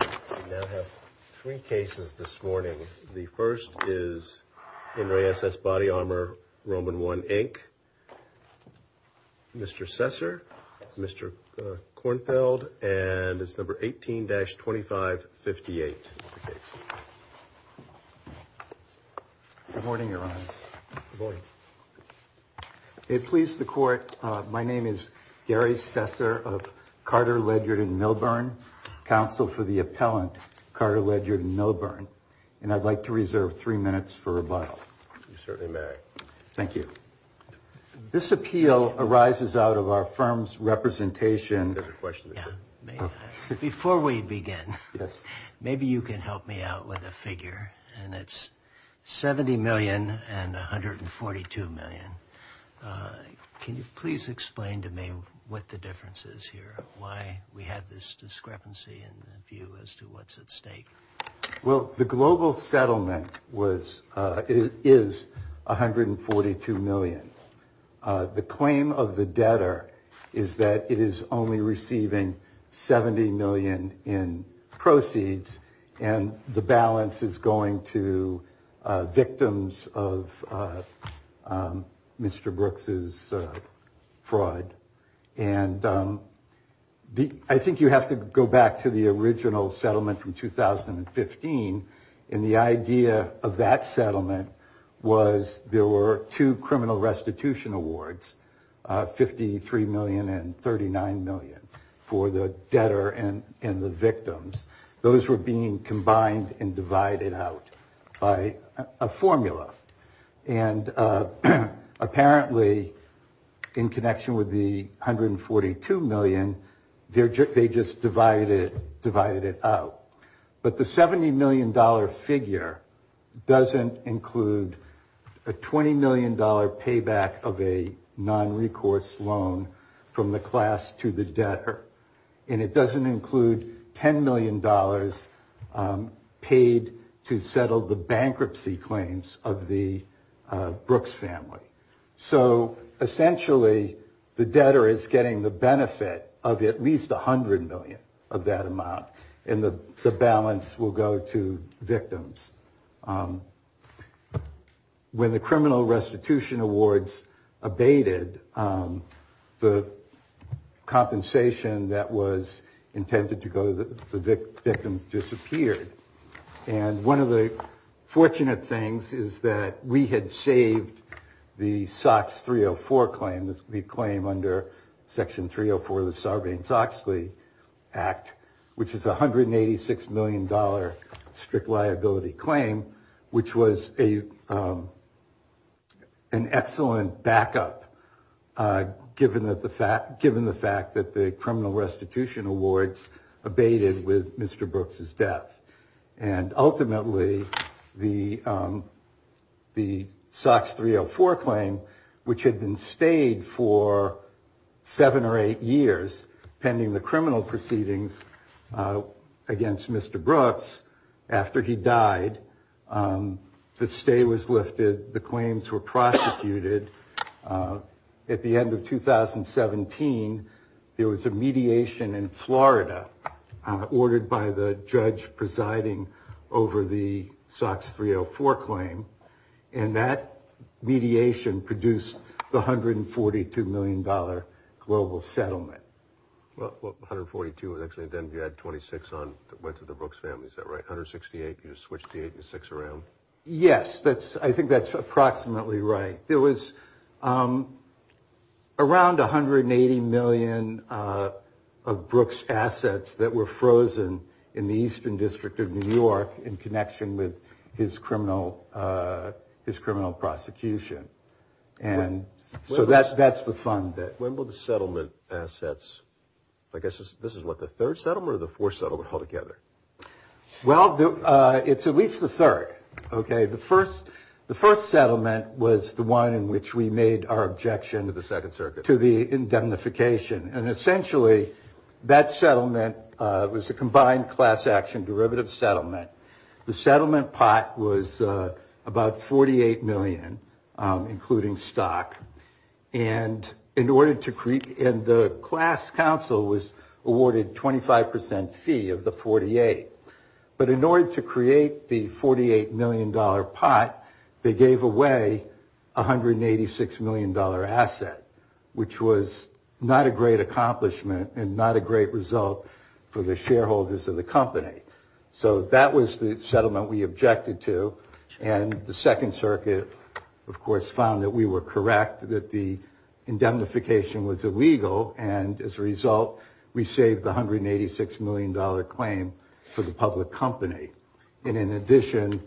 We now have three cases this morning. The first is N. Re. S.S. Body Armor, Roman I, Inc., Mr. Sesser, Mr. Kornfeld, and it's number 18-2558. Good morning, Your Honors. Good morning. If it pleases the Court, my name is Gary Sesser of Carter, Ledyard, and Milburn, counsel for the appellant, Carter, Ledyard, and Milburn, and I'd like to reserve three minutes for rebuttal. You certainly may. Thank you. This appeal arises out of our firm's representation. Before we begin, maybe you can help me out with a figure, and it's $70 million and $142 million. Can you please explain to me what the difference is here, why we have this discrepancy in the view as to what's at stake? Well, the global settlement is $142 million. The claim of the debtor is that it is only receiving $70 million in proceeds, and the balance is going to victims of Mr. Brooks's fraud. And I think you have to go back to the original settlement from 2015, and the idea of that settlement was there were two criminal restitution awards, $53 million and $39 million, for the debtor and the victims. Those were being combined and divided out by a formula. And apparently, in connection with the $142 million, they just divided it out. But the $70 million figure doesn't include a $20 million payback of a non-recourse loan from the class to the debtor, and it doesn't include $10 million paid to settle the bankruptcy claims of the Brooks family. So essentially, the debtor is getting the benefit of at least $100 million of that amount, and the balance will go to victims. When the criminal restitution awards abated, the compensation that was intended to go to the victims disappeared. And one of the fortunate things is that we had saved the SOX 304 claim, the claim under Section 304 of the Sarbanes-Oxley Act, which is a $186 million strict liability claim, which was an excellent backup, given the fact that the criminal restitution awards abated with Mr. Brooks's death. And ultimately, the SOX 304 claim, which had been stayed for seven or eight years, pending the criminal proceedings against Mr. Brooks, after he died, the stay was lifted. The claims were prosecuted. At the end of 2017, there was a mediation in Florida, ordered by the judge presiding over the SOX 304 claim, and that mediation produced the $142 million global settlement. Well, 142 actually, then you had 26 that went to the Brooks family, is that right? 168, you just switched the 86 around? Yes, I think that's approximately right. There was around $180 million of Brooks's assets that were frozen in the Eastern District of New York in connection with his criminal prosecution. And so that's the fund there. When will the settlement assets, I guess this is what, the third settlement or the fourth settlement all together? Well, it's at least the third. OK, the first settlement was the one in which we made our objection to the indemnification. And essentially, that settlement was a combined class action derivative settlement. The settlement pot was about $48 million, including stock. And the class council was awarded 25% fee of the 48. But in order to create the $48 million pot, they gave away $186 million asset, which was not a great accomplishment and not a great result for the shareholders of the company. So that was the settlement we objected to. And the Second Circuit, of course, found that we were correct, that the indemnification was illegal. And as a result, we saved the $186 million claim for the public company. And in addition,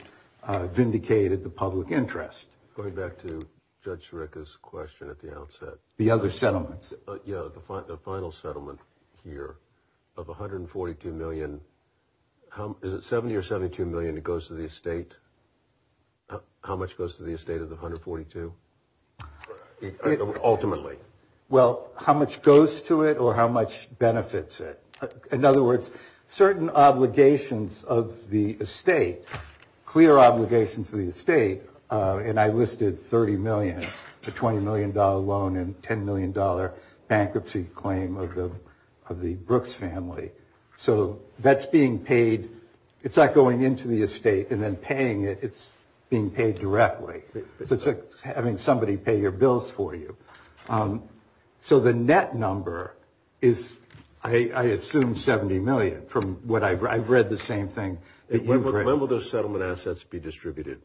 vindicated the public interest. Going back to Judge Sirica's question at the outset. The other settlements. Yeah, the final settlement here of $142 million. Is it $70 or $72 million that goes to the estate? How much goes to the estate of the $142? Ultimately. Well, how much goes to it or how much benefits it? In other words, certain obligations of the estate, clear obligations to the estate. And I listed $30 million, the $20 million loan, and $10 million bankruptcy claim of the Brooks family. So that's being paid. It's not going into the estate and then paying it. It's being paid directly. It's like having somebody pay your bills for you. So the net number is, I assume, $70 million. I've read the same thing. When will those settlement assets be distributed?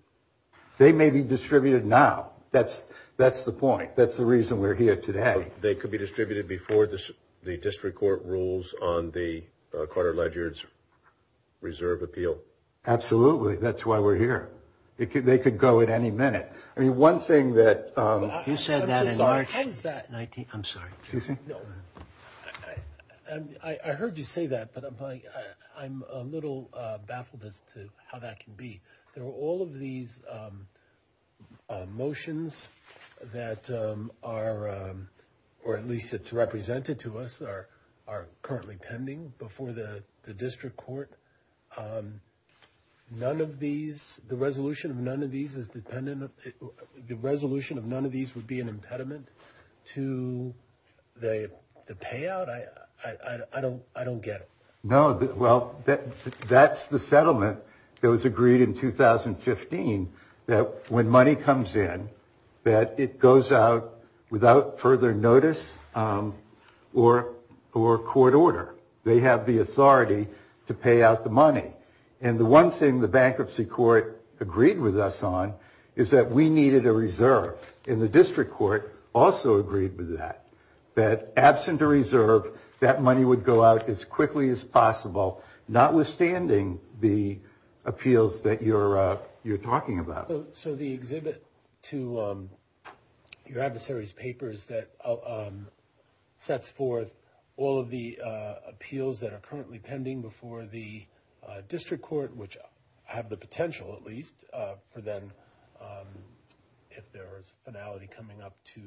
They may be distributed now. That's the point. In fact, that's the reason we're here today. They could be distributed before the district court rules on the Carter-Ledger Reserve Appeal. Absolutely. That's why we're here. They could go at any minute. I mean, one thing that- You said that in March. I'm so sorry. I'm sorry. I heard you say that, but I'm a little baffled as to how that can be. There are all of these motions that are, or at least it's represented to us, are currently pending before the district court. None of these, the resolution of none of these is dependent, the resolution of none of these would be an impediment to the payout? I don't get it. No. Well, that's the settlement that was agreed in 2015 that when money comes in, that it goes out without further notice or court order. They have the authority to pay out the money. And the one thing the bankruptcy court agreed with us on is that we needed a reserve, and the district court also agreed with that, that absent a reserve, that money would go out as quickly as possible, notwithstanding the appeals that you're talking about. So the exhibit to your adversary's paper is that it sets forth all of the appeals that are currently pending before the district court, which have the potential, at least, for them, if there is finality coming up to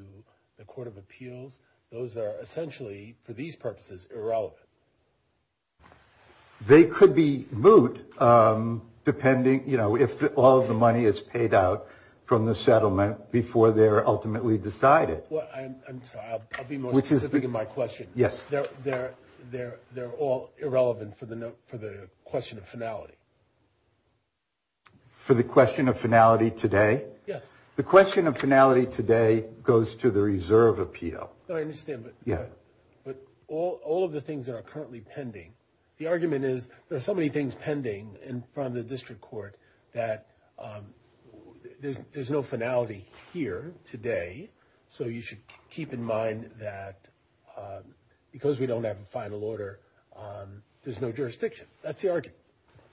the court of appeals, those are essentially, for these purposes, irrelevant. They could be moot, depending, you know, if all of the money is paid out from the settlement before they're ultimately decided. Well, I'm sorry, I'll be more specific in my question. They're all irrelevant for the question of finality. For the question of finality today? Yes. The question of finality today goes to the reserve appeal. I understand, but all of the things that are currently pending, the argument is there are so many things pending in front of the district court that there's no finality here today, so you should keep in mind that because we don't have a final order, there's no jurisdiction. That's the argument.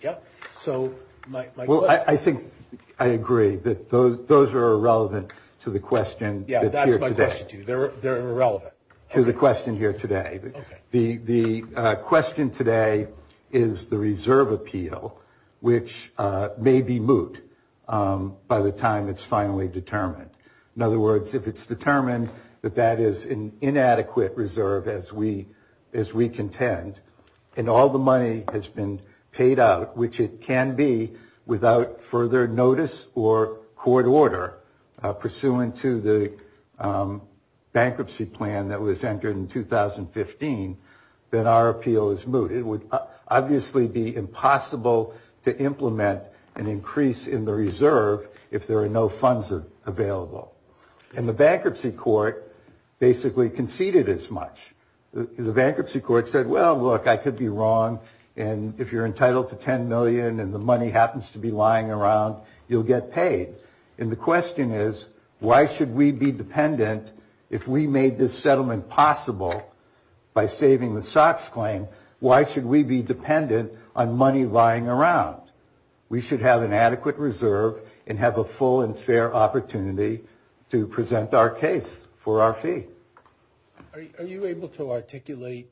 Yep. So, my question. Well, I think I agree that those are irrelevant to the question. Yeah, that's my question, too. They're irrelevant. To the question here today. Okay. The question today is the reserve appeal, which may be moot by the time it's finally determined. In other words, if it's determined that that is an inadequate reserve, as we contend, and all the money has been paid out, which it can be without further notice or court order, pursuant to the bankruptcy plan that was entered in 2015, then our appeal is moot. It would obviously be impossible to implement an increase in the reserve if there are no funds available. And the bankruptcy court basically conceded as much. The bankruptcy court said, well, look, I could be wrong, and if you're entitled to $10 million and the money happens to be lying around, you'll get paid. And the question is, why should we be dependent, if we made this settlement possible by saving the SOX claim, why should we be dependent on money lying around? We should have an adequate reserve and have a full and fair opportunity to present our case for our fee. Are you able to articulate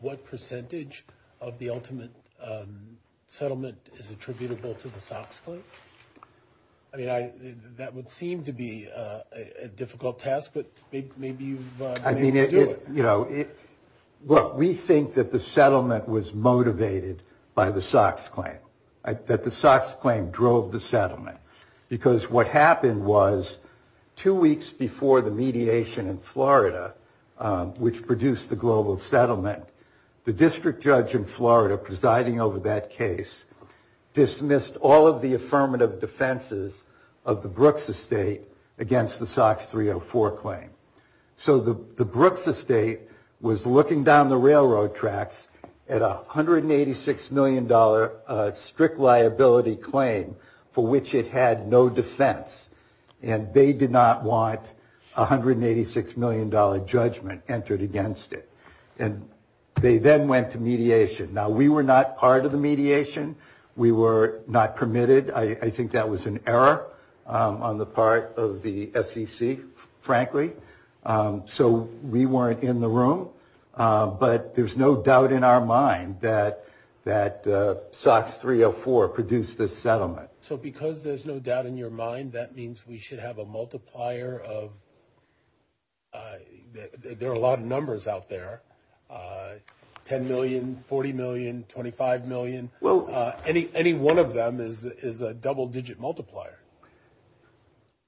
what percentage of the ultimate settlement is attributable to the SOX claim? I mean, that would seem to be a difficult task, but maybe you've been able to do it. Look, we think that the settlement was motivated by the SOX claim, that the SOX claim drove the settlement, because what happened was two weeks before the mediation in Florida, which produced the global settlement, the district judge in Florida presiding over that case dismissed all of the affirmative defenses of the Brooks estate against the SOX 304 claim. So the Brooks estate was looking down the railroad tracks at a $186 million strict liability claim for which it had no defense. And they did not want a $186 million judgment entered against it. And they then went to mediation. Now, we were not part of the mediation. We were not permitted. I think that was an error on the part of the SEC, frankly. So we weren't in the room. But there's no doubt in our mind that SOX 304 produced this settlement. So because there's no doubt in your mind, that means we should have a multiplier of – there are a lot of numbers out there, 10 million, 40 million, 25 million. Any one of them is a double-digit multiplier.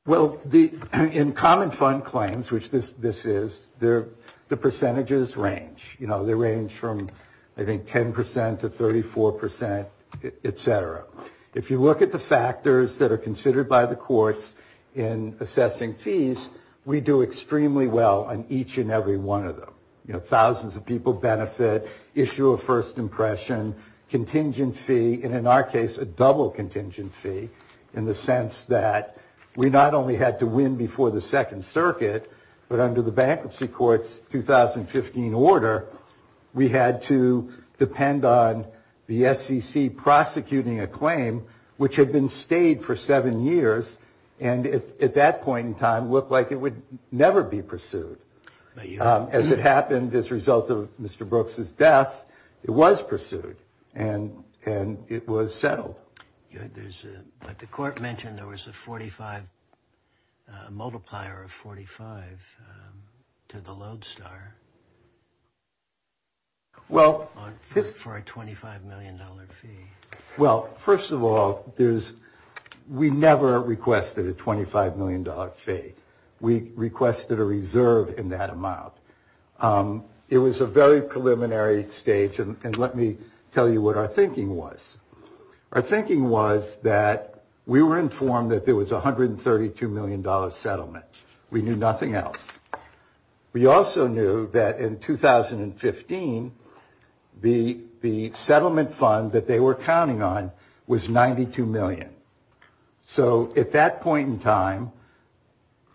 Well, in common fund claims, which this is, the percentages range. You know, they range from, I think, 10% to 34%, et cetera. If you look at the factors that are considered by the courts in assessing fees, we do extremely well on each and every one of them. You know, thousands of people benefit, issue a first impression, contingent fee, and in our case, a double-contingent fee, in the sense that we not only had to win before the Second Circuit, but under the Bankruptcy Court's 2015 order, we had to depend on the SEC prosecuting a claim, which had been stayed for seven years, and at that point in time looked like it would never be pursued. As it happened, as a result of Mr. Brooks' death, it was pursued. And it was settled. But the court mentioned there was a multiplier of 45 to the Lodestar for a $25 million fee. Well, first of all, we never requested a $25 million fee. We requested a reserve in that amount. It was a very preliminary stage, and let me tell you what our thinking was. Our thinking was that we were informed that there was a $132 million settlement. We knew nothing else. We also knew that in 2015, the settlement fund that they were counting on was $92 million. So at that point in time,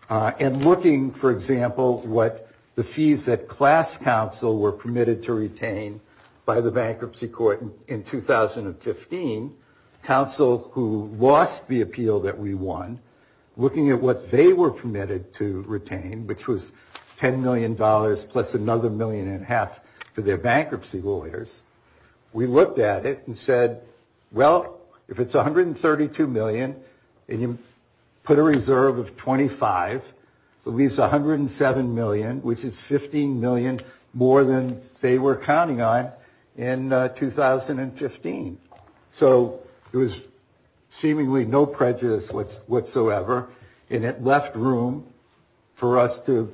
and looking, for example, what the fees that class counsel were permitted to retain by the Bankruptcy Court in 2015, counsel who lost the appeal that we won, looking at what they were permitted to retain, which was $10 million plus another million and a half for their bankruptcy lawyers, we looked at it and said, well, if it's $132 million and you put a reserve of $25, it leaves $107 million, which is $15 million more than they were counting on in 2015. So there was seemingly no prejudice whatsoever. And it left room for us to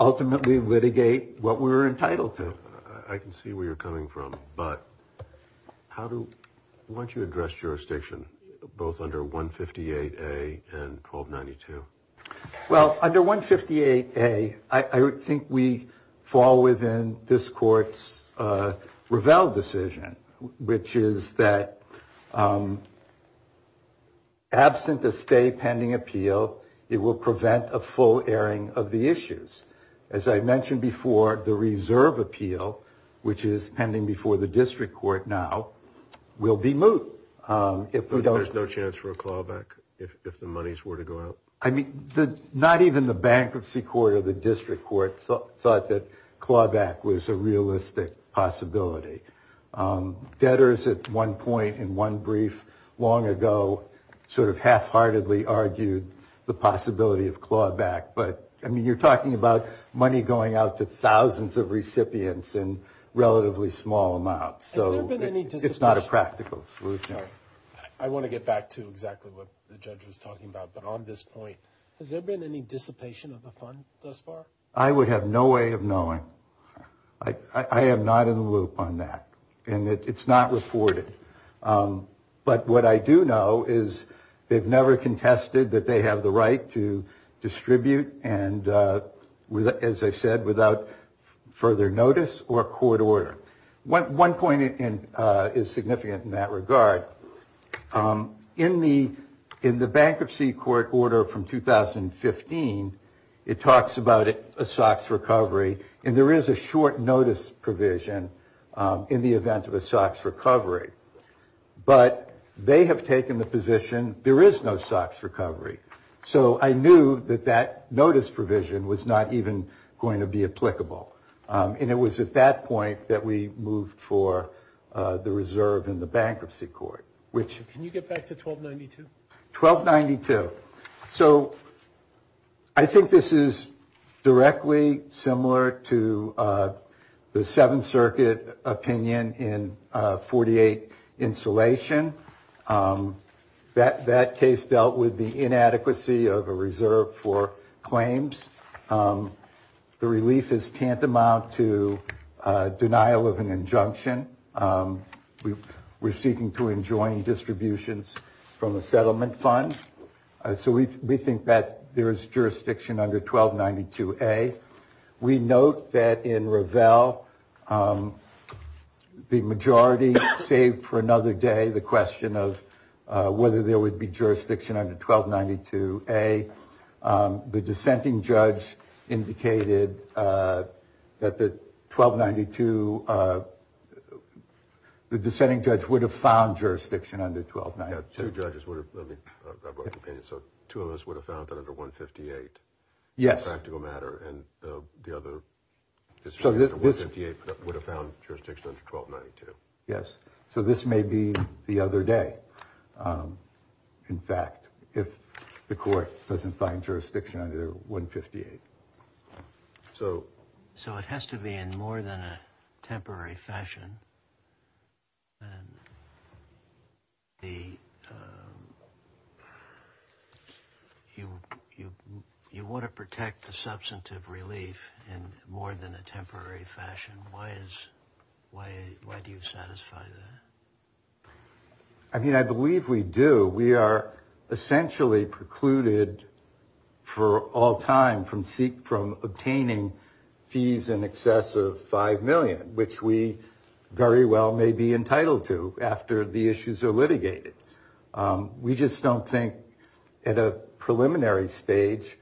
ultimately litigate what we were entitled to. I can see where you're coming from. But why don't you address jurisdiction, both under 158A and 1292? Well, under 158A, I think we fall within this Court's Ravel decision, which is that absent a stay pending appeal, it will prevent a full airing of the issues. As I mentioned before, the reserve appeal, which is pending before the District Court now, will be moot. There's no chance for a clawback if the monies were to go out? I mean, not even the Bankruptcy Court or the District Court thought that clawback was a realistic possibility. Debtors at one point in one brief long ago sort of halfheartedly argued the possibility of clawback. But, I mean, you're talking about money going out to thousands of recipients in relatively small amounts. So it's not a practical solution. I want to get back to exactly what the judge was talking about. But on this point, has there been any dissipation of the fund thus far? I would have no way of knowing. I am not in the loop on that. And it's not reported. But what I do know is they've never contested that they have the right to distribute and, as I said, without further notice or court order. One point is significant in that regard. In the Bankruptcy Court order from 2015, it talks about a SOX recovery. And there is a short notice provision in the event of a SOX recovery. But they have taken the position there is no SOX recovery. So I knew that that notice provision was not even going to be applicable. And it was at that point that we moved for the reserve in the Bankruptcy Court. Can you get back to 1292? 1292. So I think this is directly similar to the Seventh Circuit opinion in 48 insulation. That case dealt with the inadequacy of a reserve for claims. The relief is tantamount to denial of an injunction. We're seeking to enjoin distributions from the settlement fund. So we think that there is jurisdiction under 1292A. We note that in Revell, the majority saved for another day. The question of whether there would be jurisdiction under 1292A. The dissenting judge indicated that the 1292, the dissenting judge would have found jurisdiction under 1292. Two judges would have. So two of us would have found that under 158. Yes. Practical matter. And the other would have found jurisdiction under 1292. Yes. So this may be the other day. In fact, if the court doesn't find jurisdiction under 158. So. So it has to be in more than a temporary fashion. You want to protect the substantive relief in more than a temporary fashion. Why do you satisfy that? I mean, I believe we do. We are essentially precluded for all time from obtaining fees in excess of 5 million, which we very well may be entitled to after the issues are litigated. We just don't think at a preliminary stage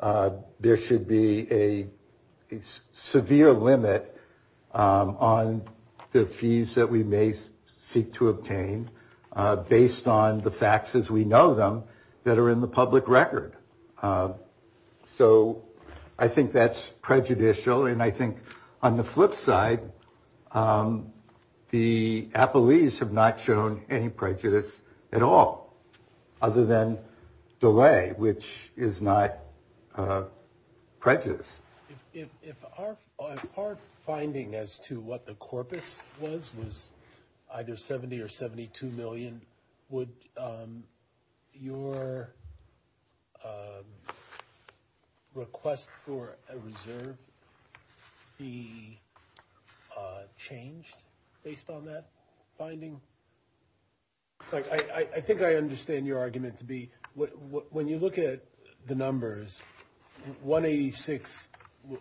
there should be a severe limit on the fees that we may seek to obtain based on the facts as we know them that are in the public record. So I think that's prejudicial. And I think on the flip side, the Appleys have not shown any prejudice at all other than delay, which is not prejudice. Our finding as to what the corpus was, was either 70 or 72 million. Would your request for a reserve be changed based on that finding? I think I understand your argument to be when you look at the numbers, 186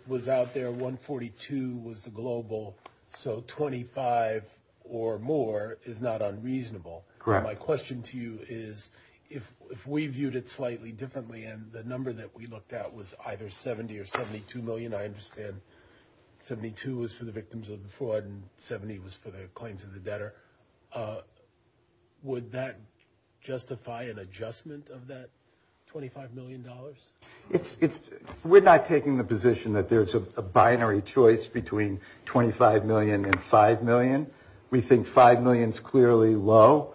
was out there. 142 was the global. So 25 or more is not unreasonable. My question to you is if we viewed it slightly differently and the number that we looked at was either 70 or 72 million. I understand 72 was for the victims of the fraud and 70 was for the claims of the debtor. Would that justify an adjustment of that $25 million? We're not taking the position that there's a binary choice between 25 million and 5 million. We think 5 million is clearly low.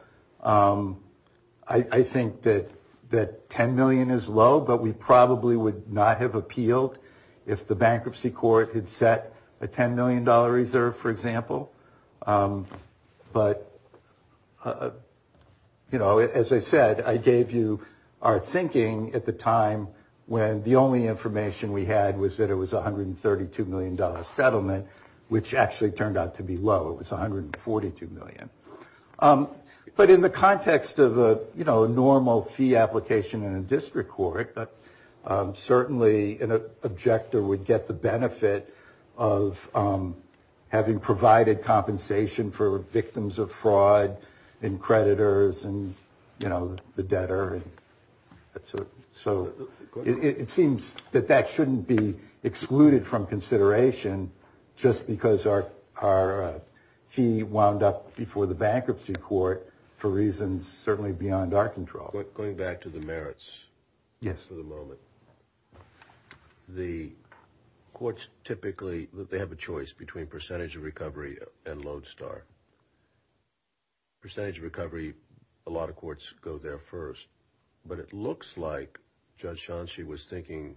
I think that 10 million is low, but we probably would not have appealed if the bankruptcy court had set a $10 million reserve, for example. But as I said, I gave you our thinking at the time when the only information we had was that it was $132 million settlement, which actually turned out to be low. It was $142 million. But in the context of a normal fee application in a district court, certainly an objector would get the benefit of having provided compensation for victims of fraud and creditors and the debtor. So it seems that that shouldn't be excluded from consideration just because our fee wound up before the bankruptcy court for reasons certainly beyond our control. Going back to the merits for the moment, the courts typically have a choice between percentage of recovery and Lodestar. Percentage of recovery, a lot of courts go there first. But it looks like Judge Shanchi was thinking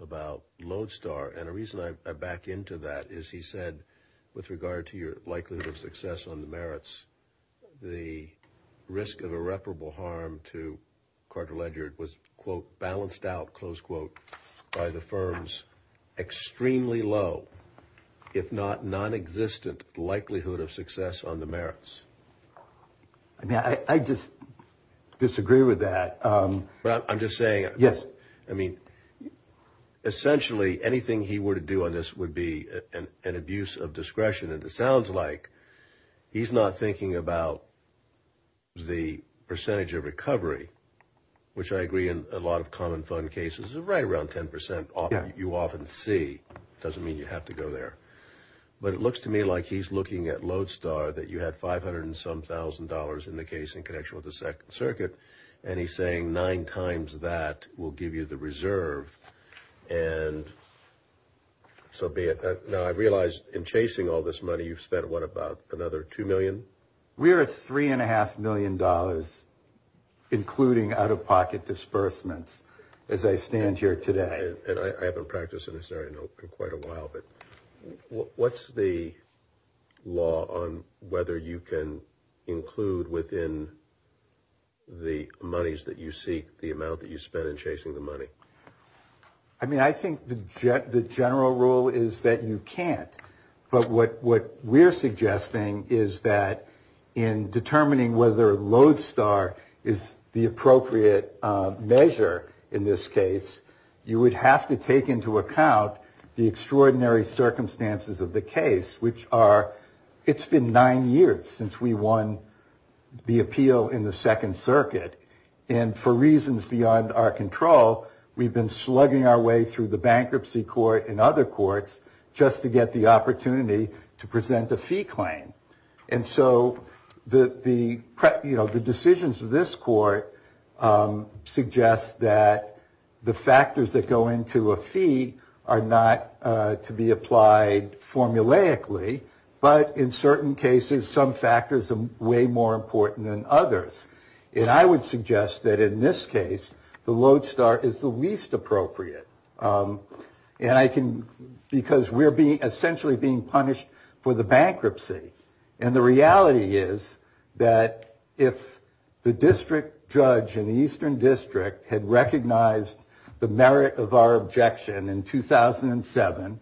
about Lodestar, and the reason I back into that is he said with regard to your likelihood of success on the merits, the risk of irreparable harm to Carter Ledger was, quote, balanced out, close quote, by the firm's extremely low, if not nonexistent, likelihood of success on the merits. I mean, I just disagree with that. I'm just saying, I mean, essentially anything he were to do on this would be an abuse of discretion. And it sounds like he's not thinking about the percentage of recovery, which I agree in a lot of common fund cases is right around 10 percent, you often see. It doesn't mean you have to go there. But it looks to me like he's looking at Lodestar, that you had 500 and some thousand dollars in the case in connection with the Second Circuit. And he's saying nine times that will give you the reserve. And so be it. Now, I realize in chasing all this money you've spent, what, about another $2 million? We're at $3.5 million, including out-of-pocket disbursements, as I stand here today. And I haven't practiced in this area in quite a while. But what's the law on whether you can include within the monies that you seek the amount that you spend in chasing the money? I mean, I think the general rule is that you can't. But what we're suggesting is that in determining whether Lodestar is the appropriate measure in this case, you would have to take into account the extraordinary circumstances of the case, which are, it's been nine years since we won the appeal in the Second Circuit. And for reasons beyond our control, we've been slugging our way through the bankruptcy court and other courts just to get the opportunity to present a fee claim. And so the decisions of this court suggest that the factors that go into a fee are not to be applied formulaically. But in certain cases, some factors are way more important than others. And I would suggest that in this case, the Lodestar is the least appropriate. Because we're essentially being punished for the bankruptcy. And the reality is that if the district judge in the Eastern District had recognized the merit of our objection in 2007,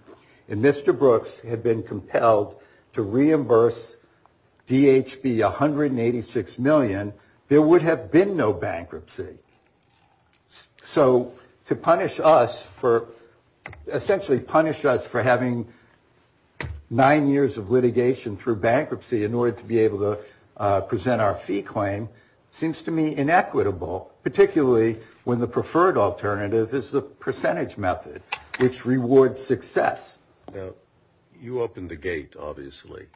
and Mr. Brooks had been compelled to reimburse DHB 186 million, there would have been no bankruptcy. So to punish us for essentially punish us for having nine years of litigation through bankruptcy in order to be able to present our fee claim seems to me inequitable, particularly when the preferred alternative is the percentage method, which rewards success. You opened the gate, obviously.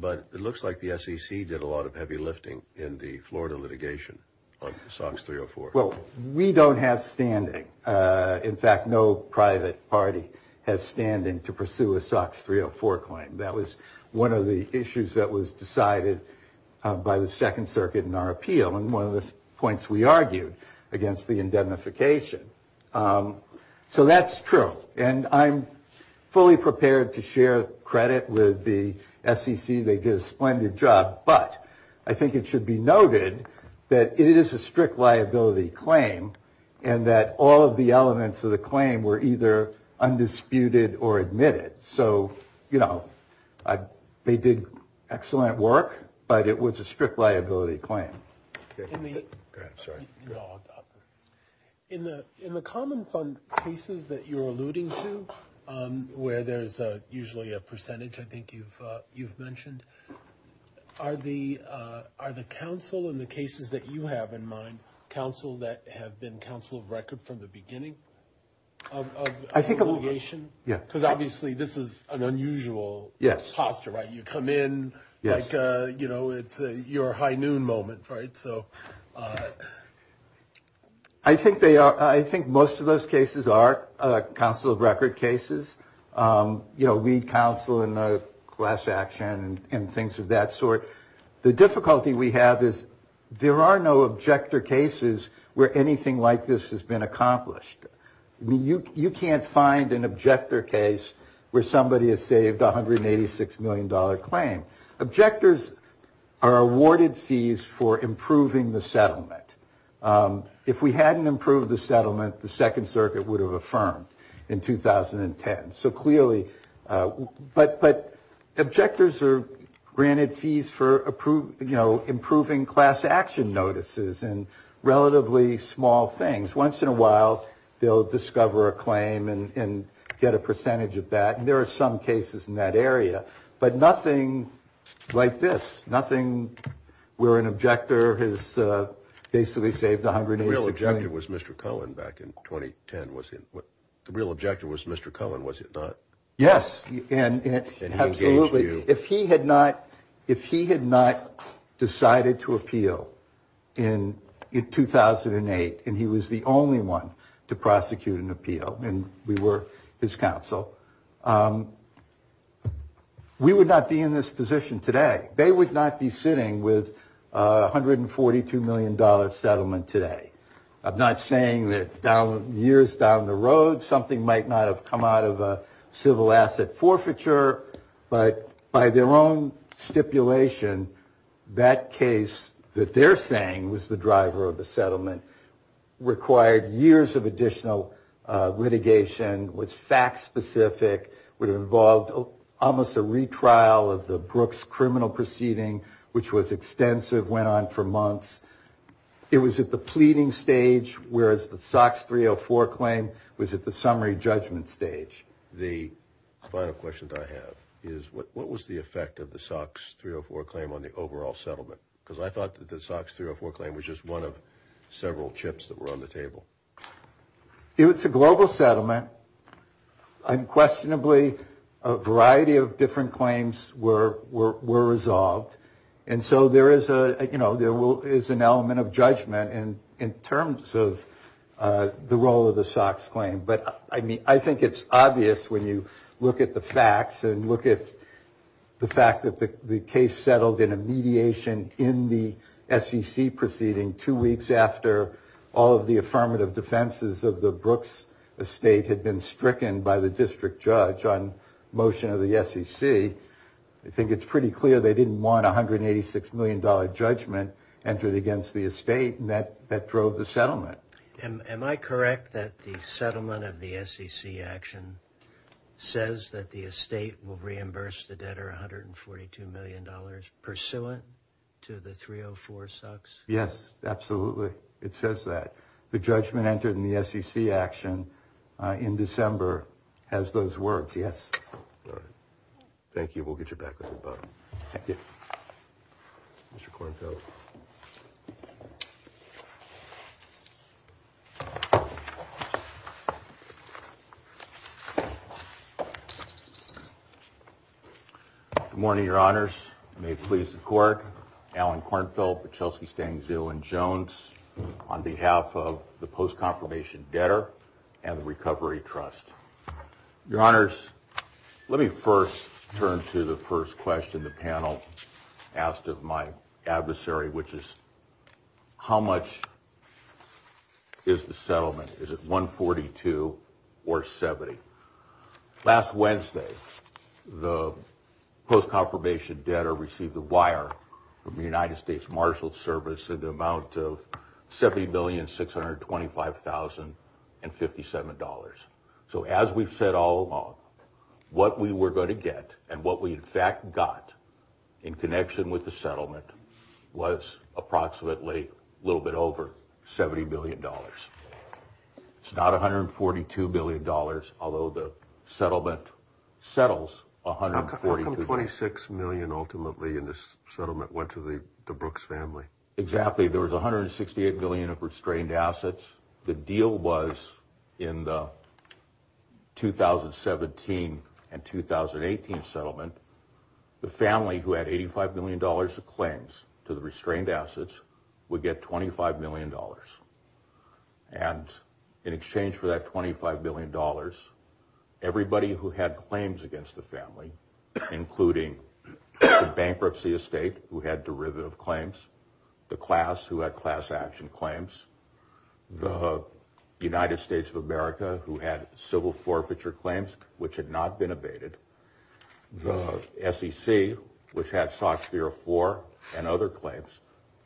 But it looks like the SEC did a lot of heavy lifting in the Florida litigation on SOX 304. Well, we don't have standing. In fact, no private party has standing to pursue a SOX 304 claim. That was one of the issues that was decided by the Second Circuit in our appeal and one of the points we argued against the indemnification. So that's true. And I'm fully prepared to share credit with the SEC. They did a splendid job. But I think it should be noted that it is a strict liability claim and that all of the elements of the claim were either undisputed or admitted. So, you know, they did excellent work, but it was a strict liability claim. In the common fund cases that you're alluding to, where there's usually a percentage, I think you've mentioned, are the counsel in the cases that you have in mind counsel that have been counsel of record from the beginning of litigation? Yeah. Because obviously this is an unusual. Yes. Posture, right? You come in like, you know, it's your high noon moment. Right. So I think they are. I think most of those cases are counsel of record cases. You know, lead counsel in a class action and things of that sort. The difficulty we have is there are no objector cases where anything like this has been accomplished. I mean, you can't find an objector case where somebody has saved one hundred eighty six million dollar claim. Objectors are awarded fees for improving the settlement. If we hadn't improved the settlement, the Second Circuit would have affirmed in 2010. So clearly. But but objectors are granted fees for approved, you know, improving class action notices and relatively small things. Once in a while they'll discover a claim and get a percentage of that. And there are some cases in that area. But nothing like this. Nothing where an objector has basically saved a hundred. The real objective was Mr. Cohen back in 2010. Was it what the real objective was? Mr. Cohen, was it not? Yes. Absolutely. If he had not if he had not decided to appeal in 2008 and he was the only one to prosecute an appeal and we were his counsel. We would not be in this position today. They would not be sitting with one hundred and forty two million dollars settlement today. I'm not saying that down years down the road, something might not have come out of a civil asset forfeiture. But by their own stipulation, that case that they're saying was the driver of the settlement required years of additional litigation. Was fact specific, would have involved almost a retrial of the Brooks criminal proceeding, which was extensive, went on for months. It was at the pleading stage, whereas the Sox 304 claim was at the summary judgment stage. The final question I have is what was the effect of the Sox 304 claim on the overall settlement? Because I thought that the Sox 304 claim was just one of several chips that were on the table. It's a global settlement. Unquestionably, a variety of different claims were were were resolved. And so there is a you know, there is an element of judgment and in terms of the role of the Sox claim. But I mean, I think it's obvious when you look at the facts and look at the fact that the case settled in a mediation in the SEC proceeding. Two weeks after all of the affirmative defenses of the Brooks estate had been stricken by the district judge on motion of the SEC. I think it's pretty clear they didn't want one hundred and eighty six million dollar judgment entered against the estate that that drove the settlement. And am I correct that the settlement of the SEC action says that the estate will reimburse the debtor one hundred and forty two million dollars pursuant to the 304 Sox? Yes, absolutely. It says that the judgment entered in the SEC action in December has those words. Yes. Thank you. We'll get your back. Mr. Cornfield. Good morning, your honors. May it please the court. Alan Cornfield, Chelsea Stang, Zill and Jones on behalf of the post confirmation debtor and the Recovery Trust. Your honors, let me first turn to the first question the panel asked of my adversary, which is how much is the settlement? Is it 142 or 70? Last Wednesday, the post confirmation debtor received a wire from the United States Marshals Service in the amount of 70 billion, six hundred twenty five thousand and fifty seven dollars. So as we've said all along, what we were going to get and what we in fact got in connection with the settlement was approximately a little bit over 70 billion dollars. It's not one hundred forty two billion dollars, although the settlement settles one hundred forty twenty six million. Ultimately in this settlement went to the Brooks family. Exactly. There was one hundred sixty eight billion of restrained assets. The deal was in the two thousand seventeen and two thousand eighteen settlement. The family who had eighty five million dollars of claims to the restrained assets would get twenty five million dollars. And in exchange for that twenty five million dollars, everybody who had claims against the family, including bankruptcy estate, who had derivative claims, the class who had class action claims, the United States of America who had civil forfeiture claims which had not been abated. The SEC, which had sought fear for and other claims,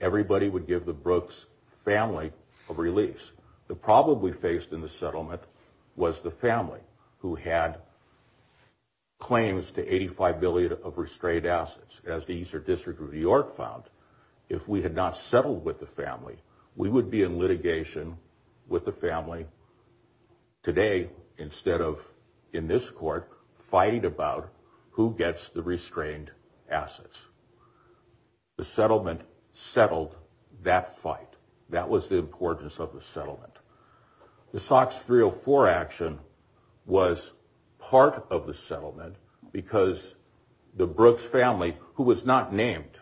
everybody would give the Brooks family a release. The problem we faced in the settlement was the family who had claims to eighty five billion of restrained assets. As the Eastern District of New York found, if we had not settled with the family, we would be in litigation with the family. Today, instead of in this court fighting about who gets the restrained assets. The settlement settled that fight. That was the importance of the settlement. The SOX 304 action was part of the settlement because the Brooks family, who was not named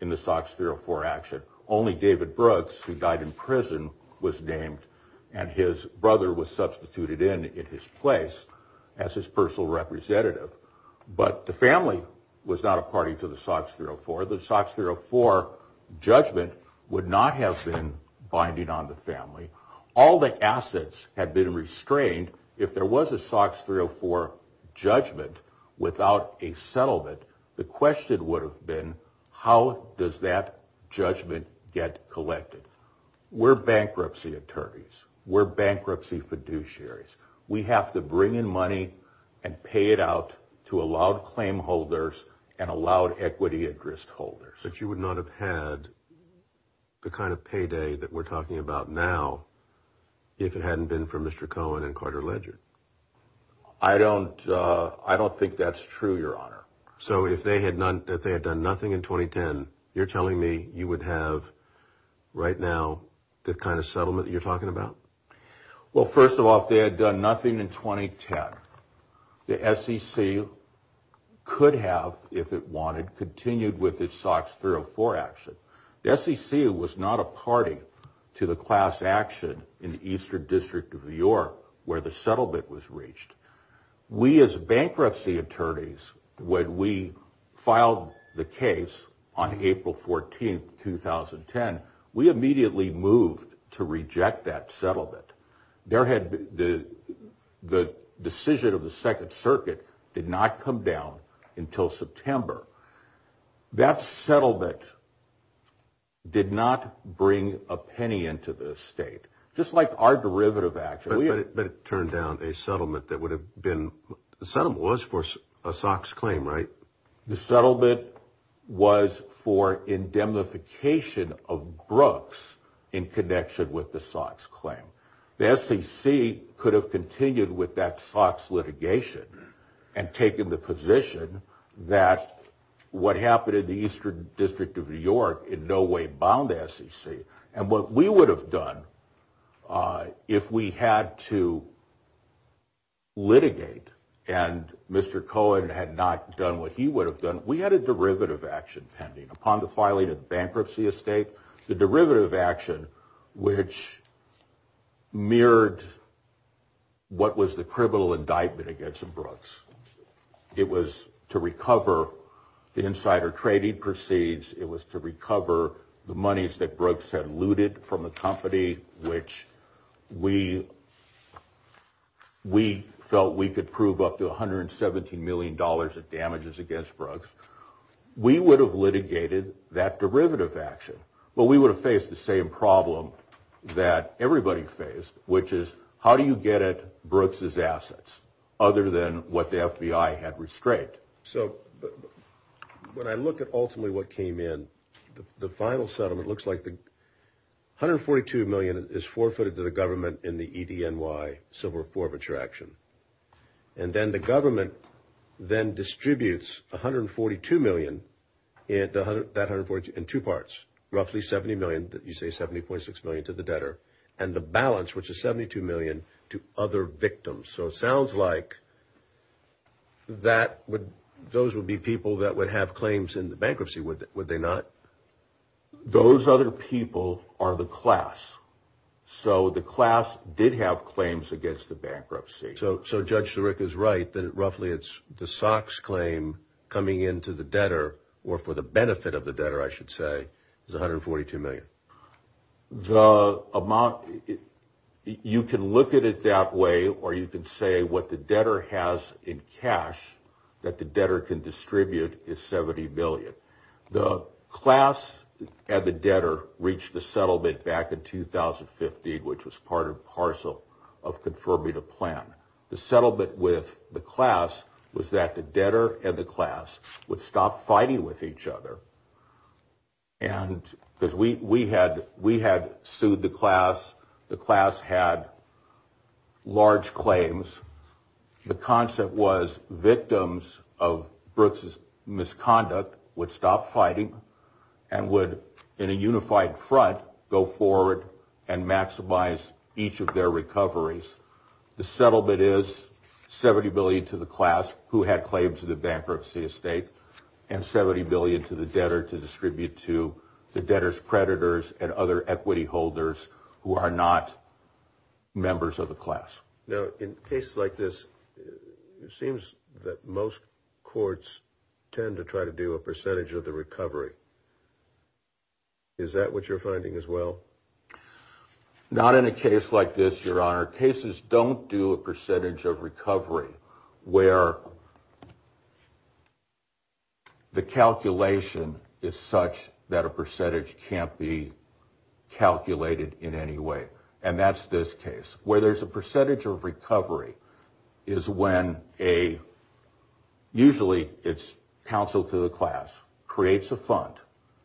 in the SOX 304 action, only David Brooks, who died in prison, was named and his brother was substituted in his place as his personal representative. But the family was not a party to the SOX 304. The SOX 304 judgment would not have been binding on the family. All the assets had been restrained. If there was a SOX 304 judgment without a settlement, the question would have been, how does that judgment get collected? We're bankruptcy attorneys. We're bankruptcy fiduciaries. We have to bring in money and pay it out to allowed claim holders and allowed equity interest holders. But you would not have had the kind of payday that we're talking about now if it hadn't been for Mr. Cohen and Carter Ledger. I don't I don't think that's true, Your Honor. So if they had not that they had done nothing in 2010, you're telling me you would have right now the kind of settlement you're talking about? Well, first of all, they had done nothing in 2010. The SEC could have, if it wanted, continued with its SOX 304 action. The SEC was not a party to the class action in the Eastern District of New York where the settlement was reached. We as bankruptcy attorneys, when we filed the case on April 14th, 2010, we immediately moved to reject that settlement. There had been the decision of the Second Circuit did not come down until September. That settlement did not bring a penny into the state, just like our derivative action. But it turned down a settlement that would have been the settlement was for a SOX claim, right? The settlement was for indemnification of Brooks in connection with the SOX claim. The SEC could have continued with that SOX litigation and taken the position that what happened in the Eastern District of New York in no way bound SEC. And what we would have done if we had to litigate and Mr. Cohen had not done what he would have done, we had a derivative action pending upon the filing of bankruptcy estate. The derivative action, which mirrored. What was the criminal indictment against Brooks? It was to recover the insider trading proceeds. It was to recover the monies that Brooks had looted from the company, which we felt we could prove up to $117 million in damages against Brooks. We would have litigated that derivative action, but we would have faced the same problem that everybody faced, which is how do you get at Brooks's assets other than what the FBI had restrained? So when I look at ultimately what came in, the final settlement looks like $142 million is forfeited to the government in the EDNY civil forfeiture action. And then the government then distributes $142 million in two parts, roughly $70 million, you say $70.6 million to the debtor, and the balance, which is $72 million, to other victims. So it sounds like that would, those would be people that would have claims in the bankruptcy, would they not? Those other people are the class. So the class did have claims against the bankruptcy. So Judge Sirica is right that roughly it's the Sox claim coming into the debtor, or for the benefit of the debtor, I should say, is $142 million. The amount, you can look at it that way, or you can say what the debtor has in cash that the debtor can distribute is $70 million. The class and the debtor reached a settlement back in 2015, which was part and parcel of confirming a plan. The settlement with the class was that the debtor and the class would stop fighting with each other. And because we had sued the class, the class had large claims. The concept was victims of Brooks's misconduct would stop fighting and would, in a unified front, go forward and maximize each of their recoveries. The settlement is $70 billion to the class who had claims to the bankruptcy estate and $70 billion to the debtor to distribute to the debtor's predators and other equity holders who are not members of the class. Now, in cases like this, it seems that most courts tend to try to do a percentage of the recovery. Is that what you're finding as well? Not in a case like this, Your Honor. Cases don't do a percentage of recovery where the calculation is such that a percentage can't be calculated in any way. And that's this case. Where there's a percentage of recovery is when usually it's counsel to the class creates a fund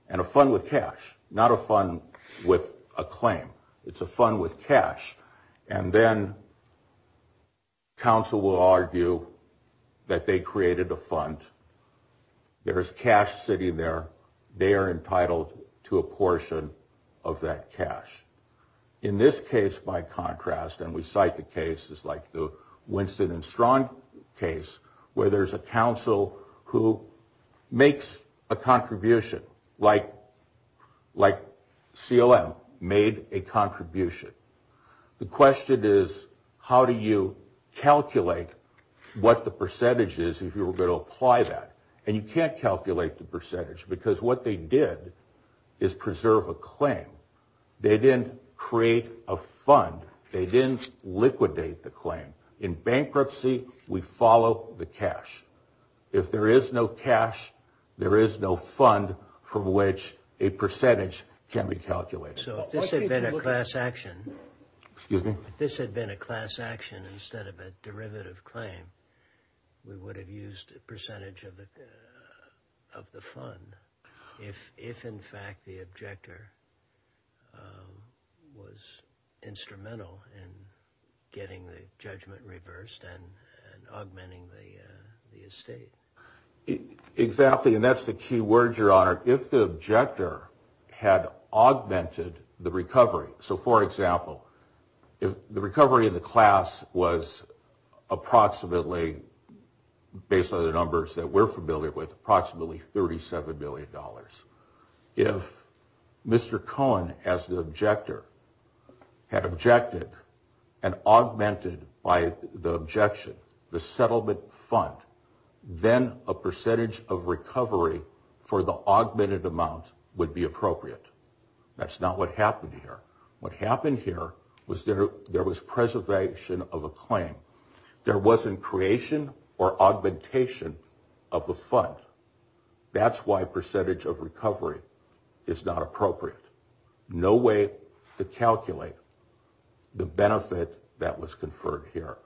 and a fund with cash, not a fund with a claim. It's a fund with cash. And then counsel will argue that they created a fund. There is cash sitting there. In this case, by contrast, and we cite the cases like the Winston and Strong case, where there's a counsel who makes a contribution, like CLM made a contribution. The question is, how do you calculate what the percentage is if you were going to apply that? And you can't calculate the percentage because what they did is preserve a claim. They didn't create a fund. They didn't liquidate the claim. In bankruptcy, we follow the cash. If there is no cash, there is no fund from which a percentage can be calculated. So if this had been a class action instead of a derivative claim, we would have used a percentage of the fund. If, in fact, the objector was instrumental in getting the judgment reversed and augmenting the estate. Exactly. Or if the objector had augmented the recovery. So, for example, if the recovery in the class was approximately, based on the numbers that we're familiar with, approximately $37 million. If Mr. Cohen, as the objector, had objected and augmented by the objection, the settlement fund, then a percentage of recovery for the augmented amount would be appropriate. That's not what happened here. What happened here was there was preservation of a claim. There wasn't creation or augmentation of the fund. That's why percentage of recovery is not appropriate. No way to calculate the benefit that was conferred here.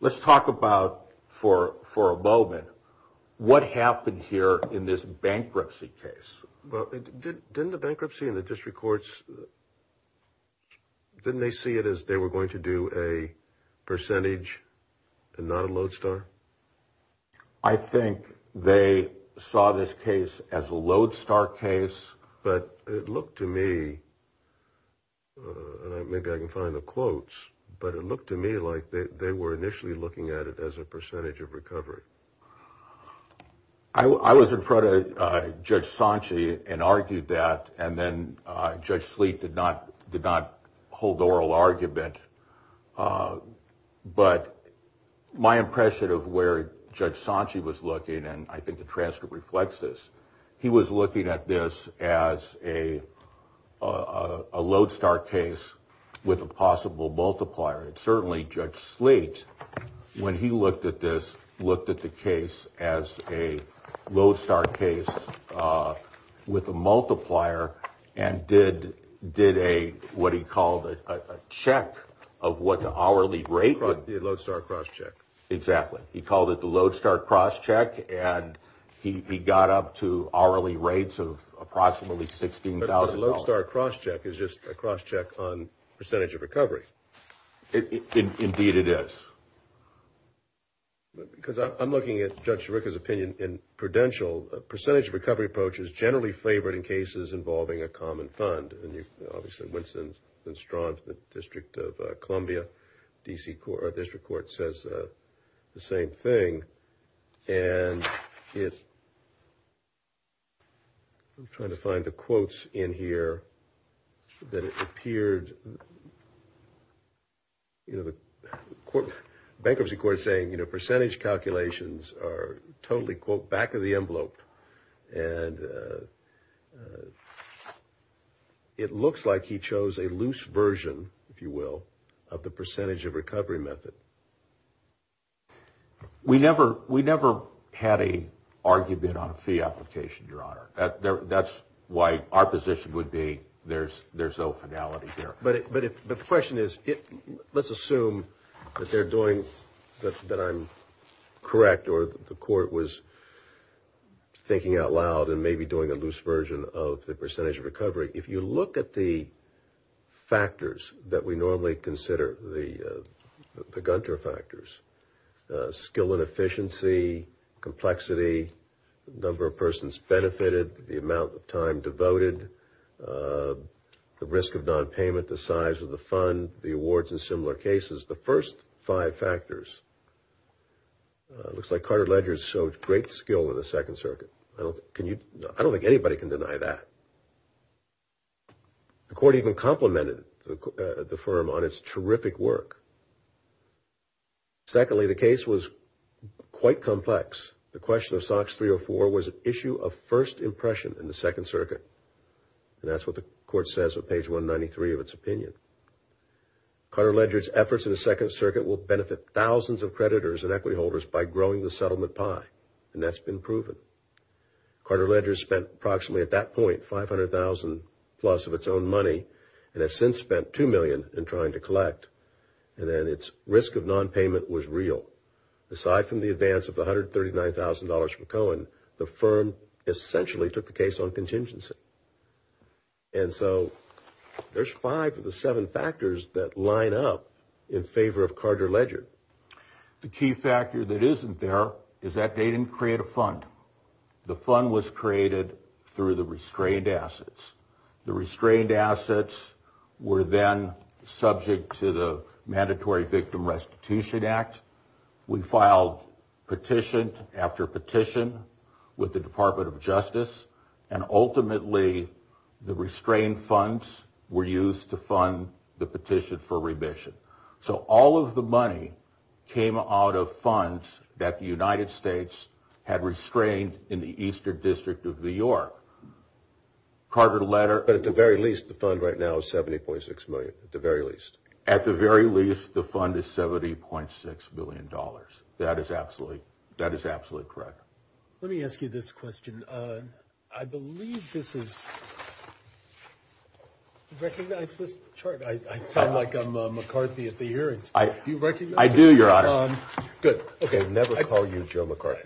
Let's talk about, for a moment, what happened here in this bankruptcy case. Didn't the bankruptcy and the district courts, didn't they see it as they were going to do a percentage and not a lodestar? I think they saw this case as a lodestar case, but it looked to me, and maybe I can find the quotes, but it looked to me like they were initially looking at it as a percentage of recovery. I was in front of Judge Sanche and argued that, and then Judge Sleet did not hold oral argument. But my impression of where Judge Sanche was looking, and I think the transcript reflects this, he was looking at this as a lodestar case with a possible multiplier. And certainly Judge Sleet, when he looked at this, looked at the case as a lodestar case with a multiplier and did what he called a check of what the hourly rate was. The lodestar crosscheck. And he got up to hourly rates of approximately $16,000. But a lodestar crosscheck is just a crosscheck on percentage of recovery. Indeed, it is. Because I'm looking at Judge Sirica's opinion in Prudential. A percentage recovery approach is generally favored in cases involving a common fund. And obviously Winston Strawn from the District of Columbia District Court says the same thing. And I'm trying to find the quotes in here that it appeared. You know, the bankruptcy court is saying, you know, percentage calculations are totally, quote, back of the envelope. And it looks like he chose a loose version, if you will, of the percentage of recovery method. We never had an argument on a fee application, Your Honor. That's why our position would be there's no finality here. But the question is, let's assume that they're doing, that I'm correct, or the court was thinking out loud and maybe doing a loose version of the percentage of recovery. If you look at the factors that we normally consider, the Gunter factors, skill and efficiency, complexity, number of persons benefited, the amount of time devoted, the risk of nonpayment, the size of the fund, the awards in similar cases, the first five factors. It looks like Carter Ledger showed great skill in the Second Circuit. I don't think anybody can deny that. The court even complimented the firm on its terrific work. Secondly, the case was quite complex. The question of SOX 304 was an issue of first impression in the Second Circuit. And that's what the court says on page 193 of its opinion. Carter Ledger's efforts in the Second Circuit will benefit thousands of creditors and equity holders by growing the settlement pie, and that's been proven. Carter Ledger spent approximately at that point $500,000 plus of its own money and has since spent $2 million in trying to collect. And then its risk of nonpayment was real. Aside from the advance of $139,000 from Cohen, the firm essentially took the case on contingency. And so there's five of the seven factors that line up in favor of Carter Ledger. The key factor that isn't there is that they didn't create a fund. The fund was created through the restrained assets. The restrained assets were then subject to the Mandatory Victim Restitution Act. We filed petition after petition with the Department of Justice, and ultimately the restrained funds were used to fund the petition for remission. So all of the money came out of funds that the United States had restrained in the Eastern District of New York. Carter Ledger... But at the very least, the fund right now is $70.6 million, at the very least. At the very least, the fund is $70.6 million. That is absolutely correct. Let me ask you this question. I believe this is... Do you recognize this chart? I sound like I'm McCarthy at the hearings. Do you recognize this? I do, Your Honor. Good. I never call you Joe McCarthy.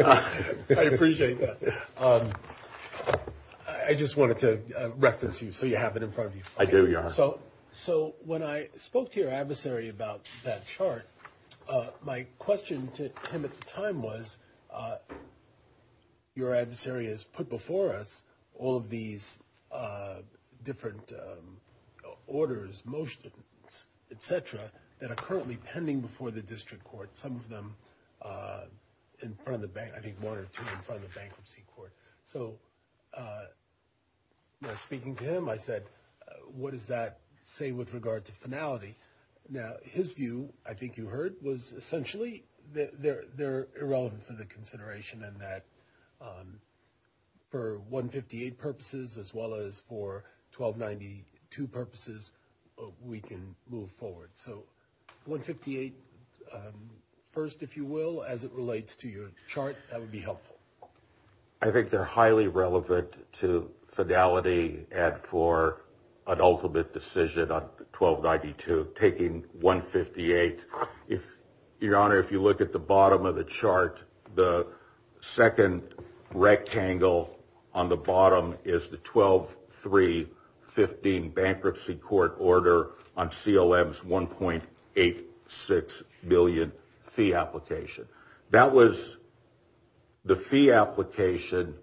I appreciate that. I just wanted to reference you so you have it in front of you. I do, Your Honor. So when I spoke to your adversary about that chart, my question to him at the time was, your adversary has put before us all of these different orders, motions, etc., that are currently pending before the district court, some of them in front of the bank, I think one or two in front of the bankruptcy court. So when I was speaking to him, I said, what does that say with regard to finality? Now, his view, I think you heard, was essentially they're irrelevant for the consideration and that for 158 purposes as well as for 1292 purposes, we can move forward. So 158 first, if you will, as it relates to your chart, that would be helpful. I think they're highly relevant to finality and for an ultimate decision on 1292, taking 158. Your Honor, if you look at the bottom of the chart, the second rectangle on the bottom is the 12-3-15 bankruptcy court order on CLM's $1.86 billion fee application. That was the fee application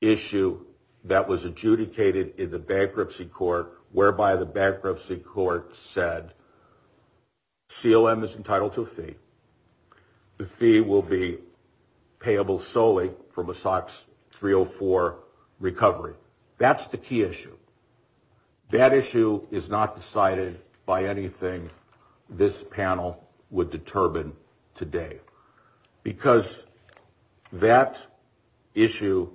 issue that was adjudicated in the bankruptcy court, whereby the bankruptcy court said CLM is entitled to a fee. The fee will be payable solely from a SOX 304 recovery. That's the key issue. That issue is not decided by anything this panel would determine today because that issue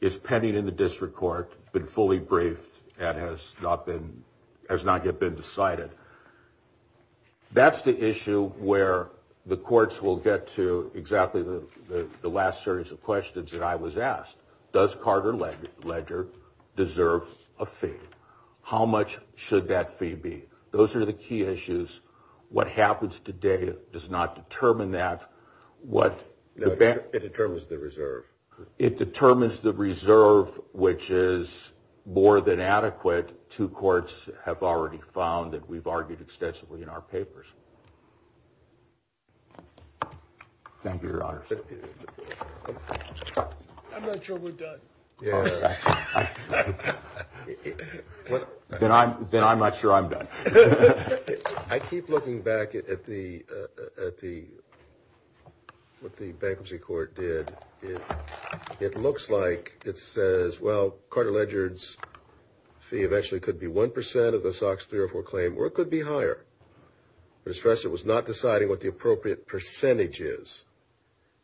is pending in the district court, been fully briefed and has not yet been decided. That's the issue where the courts will get to exactly the last series of questions that I was asked. Does Carter Ledger deserve a fee? How much should that fee be? Those are the key issues. What happens today does not determine that. It determines the reserve. It determines the reserve, which is more than adequate. Two courts have already found that. We've argued extensively in our papers. Thank you, Your Honor. I'm not sure we're done. Then I'm not sure I'm done. I keep looking back at what the bankruptcy court did. It looks like it says, well, Carter Ledger's fee eventually could be 1% of the SOX 304 claim or it could be higher. First, it was not deciding what the appropriate percentage is.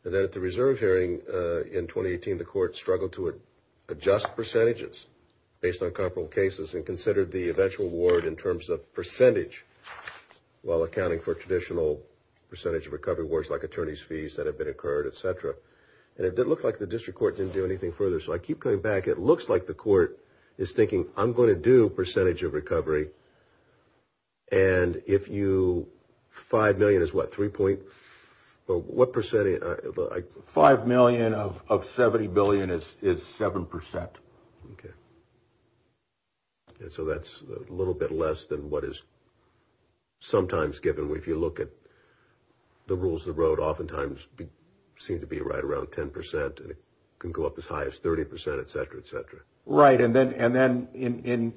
Then at the reserve hearing in 2018, the court struggled to adjust percentages based on comparable cases and considered the eventual award in terms of percentage while accounting for traditional percentage of recovery awards like attorney's fees that have been incurred, etc. It looked like the district court didn't do anything further. So I keep coming back. It looks like the court is thinking, I'm going to do percentage of recovery. And if you 5 million is what, 3 point? What percentage? 5 million of 70 billion is 7%. Okay. And so that's a little bit less than what is sometimes given. If you look at the rules of the road, oftentimes seem to be right around 10% and it can go up as high as 30%, etc., etc. Right. And then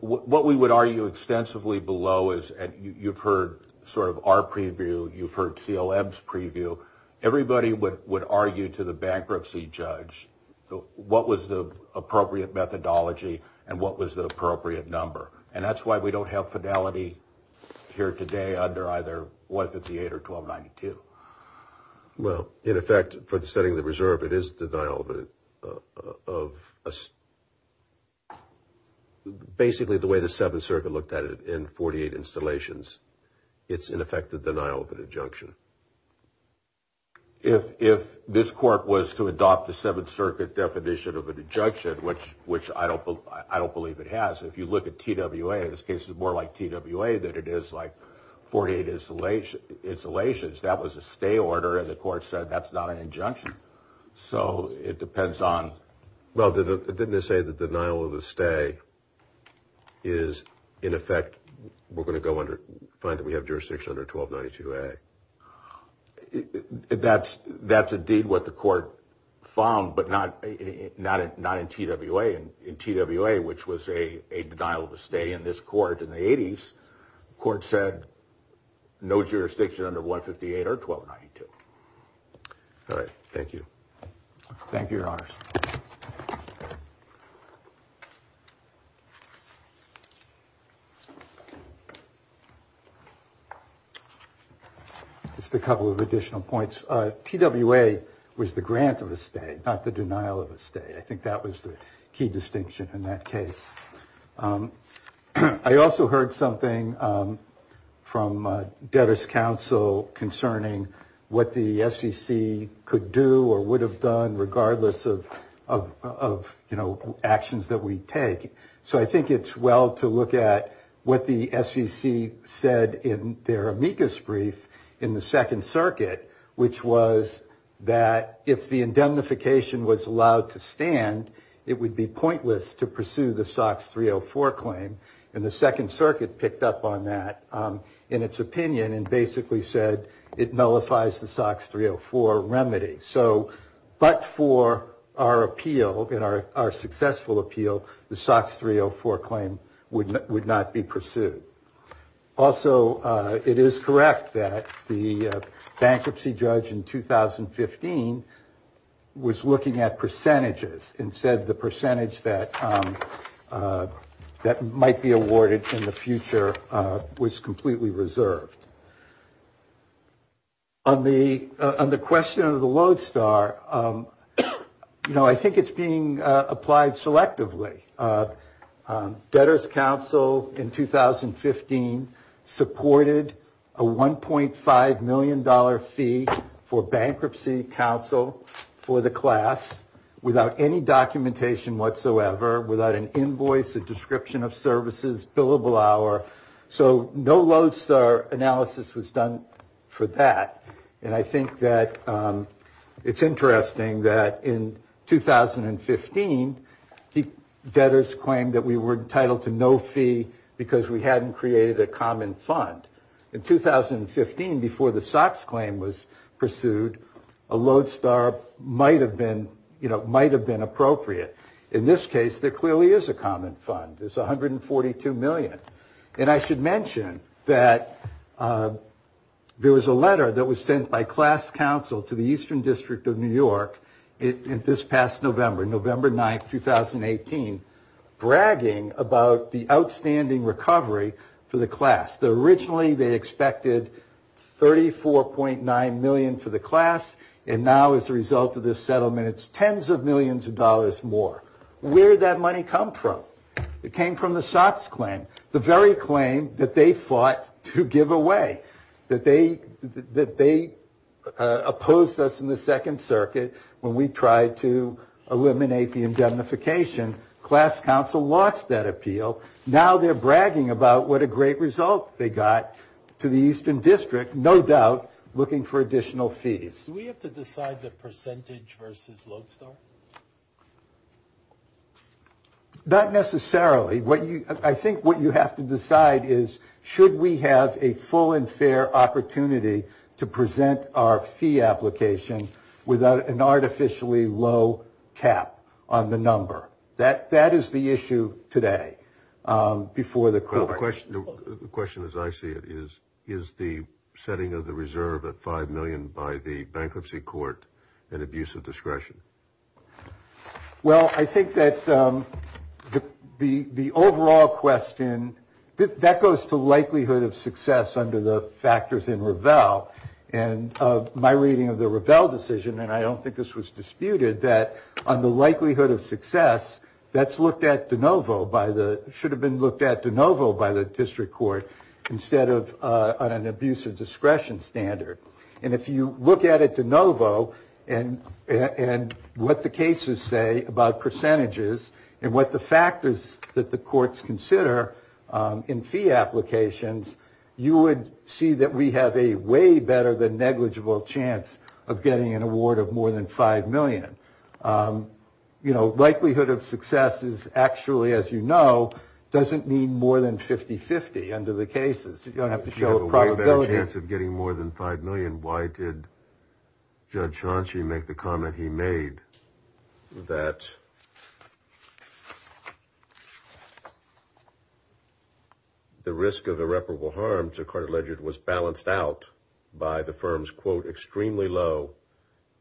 what we would argue extensively below is you've heard sort of our preview. You've heard CLM's preview. Everybody would argue to the bankruptcy judge what was the appropriate methodology and what was the appropriate number. And that's why we don't have fidelity here today under either 158 or 1292. Well, in effect, for the setting of the reserve, it is denial of basically the way the Seventh Circuit looked at it in 48 installations. It's in effect a denial of an injunction. If this court was to adopt the Seventh Circuit definition of an injunction, which I don't believe it has, if you look at TWA, this case is more like TWA than it is like 48 installations, that was a stay order and the court said that's not an injunction. So it depends on... Well, didn't it say the denial of a stay is in effect we're going to find that we have jurisdiction under 1292A? That's indeed what the court found, but not in TWA. In TWA, which was a denial of a stay in this court in the 80s, the court said no jurisdiction under 158 or 1292. All right. Thank you. Thank you, Your Honors. Just a couple of additional points. TWA was the grant of a stay, not the denial of a stay. I think that was the key distinction in that case. I also heard something from DeVos Council concerning what the SEC could do or would have done regardless of actions that we take. So I think it's well to look at what the SEC said in their amicus brief in the Second Circuit, which was that if the indemnification was allowed to stand, it would be pointless to pursue the SOX 304 claim. And the Second Circuit picked up on that in its opinion and basically said it nullifies the SOX 304 remedy. So but for our appeal, our successful appeal, the SOX 304 claim would not be pursued. Also, it is correct that the bankruptcy judge in 2015 was looking at percentages and said the percentage that might be awarded in the future was completely reserved. On the question of the Lodestar, you know, I think it's being applied selectively. Debtor's Council in 2015 supported a $1.5 million fee for Bankruptcy Council for the class without any documentation whatsoever, without an invoice, a description of services, billable hour. So no Lodestar analysis was done for that. And I think that it's interesting that in 2015, debtors claimed that we were entitled to no fee because we hadn't created a common fund. In 2015, before the SOX claim was pursued, a Lodestar might have been appropriate. In this case, there clearly is a common fund. There's $142 million. And I should mention that there was a letter that was sent by class council to the Eastern District of New York this past November, November 9, 2018, bragging about the outstanding recovery for the class. Originally, they expected $34.9 million for the class. And now, as a result of this settlement, it's tens of millions of dollars more. Where did that money come from? It came from the SOX claim, the very claim that they fought to give away, that they opposed us in the Second Circuit when we tried to eliminate the indemnification. Class council lost that appeal. Now they're bragging about what a great result they got to the Eastern District, no doubt looking for additional fees. Do we have to decide the percentage versus Lodestar? Not necessarily. I think what you have to decide is should we have a full and fair opportunity to present our fee application without an artificially low cap on the number. That is the issue today before the court. The question as I see it is, is the setting of the reserve at $5 million by the bankruptcy court an abuse of discretion? Well, I think that the overall question, that goes to likelihood of success under the factors in Revell. And my reading of the Revell decision, and I don't think this was disputed, that on the likelihood of success, that's looked at de novo by the, should have been looked at de novo by the district court instead of on an abuse of discretion standard. And if you look at it de novo and what the cases say about percentages and what the factors that the courts consider in fee applications, you would see that we have a way better than negligible chance of getting an award of more than $5 million. You know, likelihood of success is actually, as you know, doesn't mean more than 50-50 under the cases. You don't have to show a probability. If you have a way better chance of getting more than $5 million, I mean, why did Judge Chauncey make the comment he made that the risk of irreparable harm to Carter-Ledger was balanced out by the firm's, quote, extremely low,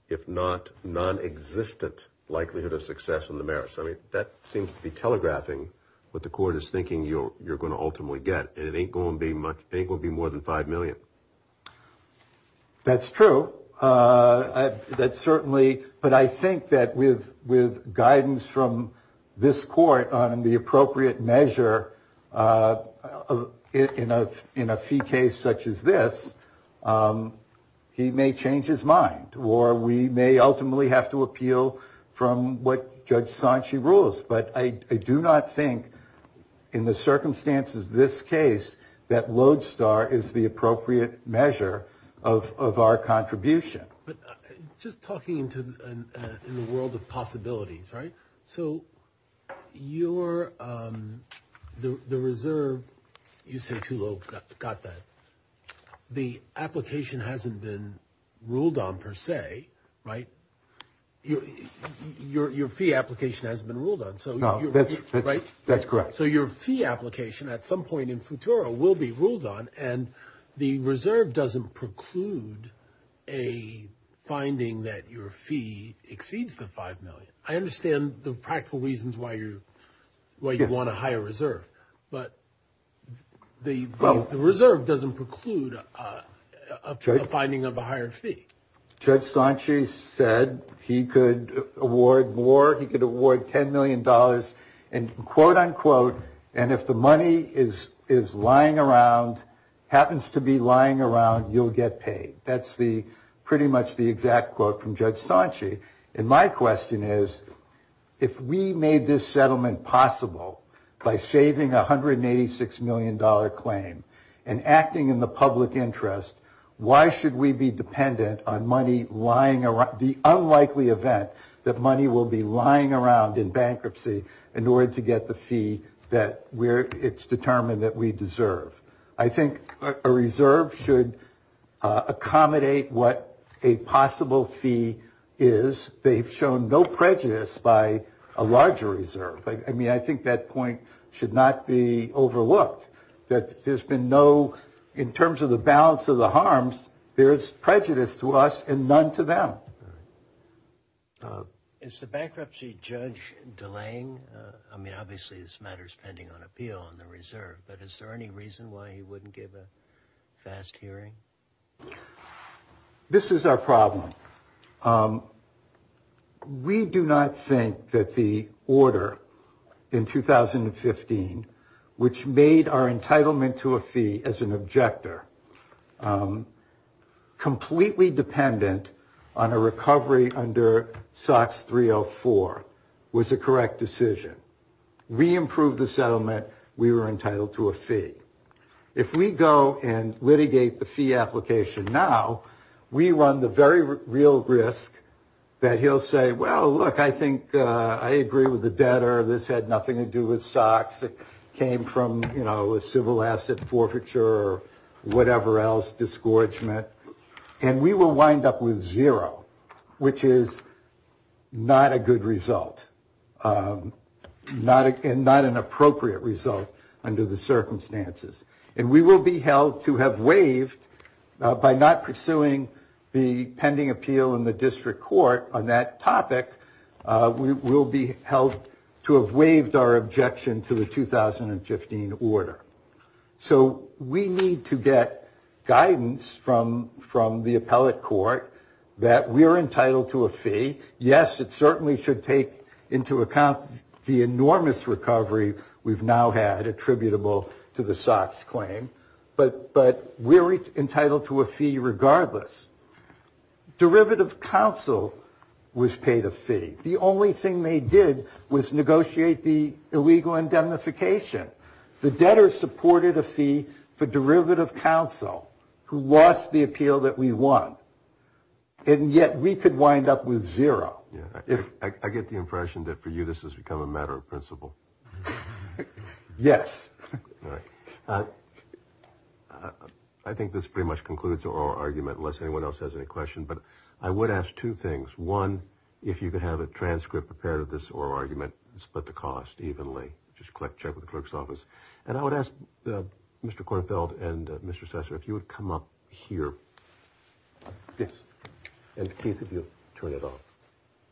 if not nonexistent likelihood of success on the merits? I mean, that seems to be telegraphing what the court is thinking you're going to ultimately get. And it ain't going to be more than $5 million. That's true. That certainly, but I think that with guidance from this court on the appropriate measure in a fee case such as this, he may change his mind or we may ultimately have to appeal from what Judge Chauncey rules. But I do not think in the circumstances of this case that Lodestar is the appropriate measure of our contribution. But just talking into the world of possibilities, right? So your the reserve, you say too low, got that. The application hasn't been ruled on per se, right? Your fee application hasn't been ruled on. No, that's correct. So your fee application at some point in futuro will be ruled on. And the reserve doesn't preclude a finding that your fee exceeds the $5 million. I understand the practical reasons why you want a higher reserve. But the reserve doesn't preclude a finding of a higher fee. Judge Chauncey said he could award more. He could award $10 million, and quote, unquote, and if the money is lying around, happens to be lying around, you'll get paid. That's pretty much the exact quote from Judge Chauncey. And my question is, if we made this settlement possible by saving $186 million claim and acting in the public interest, why should we be dependent on money lying around, the unlikely event that money will be lying around in bankruptcy in order to get the fee that it's determined that we deserve? I think a reserve should accommodate what a possible fee is. They've shown no prejudice by a larger reserve. I mean, I think that point should not be overlooked. That there's been no, in terms of the balance of the harms, there is prejudice to us and none to them. Is the bankruptcy judge delaying? I mean, obviously, this matter is pending on appeal on the reserve. But is there any reason why he wouldn't give a fast hearing? This is our problem. We do not think that the order in 2015, which made our entitlement to a fee as an objector, completely dependent on a recovery under SOX 304, was a correct decision. We improved the settlement. We were entitled to a fee. If we go and litigate the fee application now, we run the very real risk that he'll say, well, look, I think I agree with the debtor. This had nothing to do with SOX. It came from a civil asset forfeiture or whatever else, disgorgement. And we will wind up with zero, which is not a good result. Not an appropriate result under the circumstances. And we will be held to have waived, by not pursuing the pending appeal in the district court on that topic, we will be held to have waived our objection to the 2015 order. So we need to get guidance from the appellate court that we're entitled to a fee. Yes, it certainly should take into account the enormous recovery we've now had attributable to the SOX claim. But we're entitled to a fee regardless. Derivative counsel was paid a fee. The only thing they did was negotiate the illegal indemnification. The debtor supported a fee for derivative counsel who lost the appeal that we won. And yet we could wind up with zero. I get the impression that for you this has become a matter of principle. Yes. I think this pretty much concludes our argument, unless anyone else has any questions. But I would ask two things. One, if you could have a transcript prepared of this oral argument, split the cost evenly. Just check with the clerk's office. And I would ask Mr. Kornfeld and Mr. Sasser if you would come up here. Yes. And Keith, if you'll turn it off.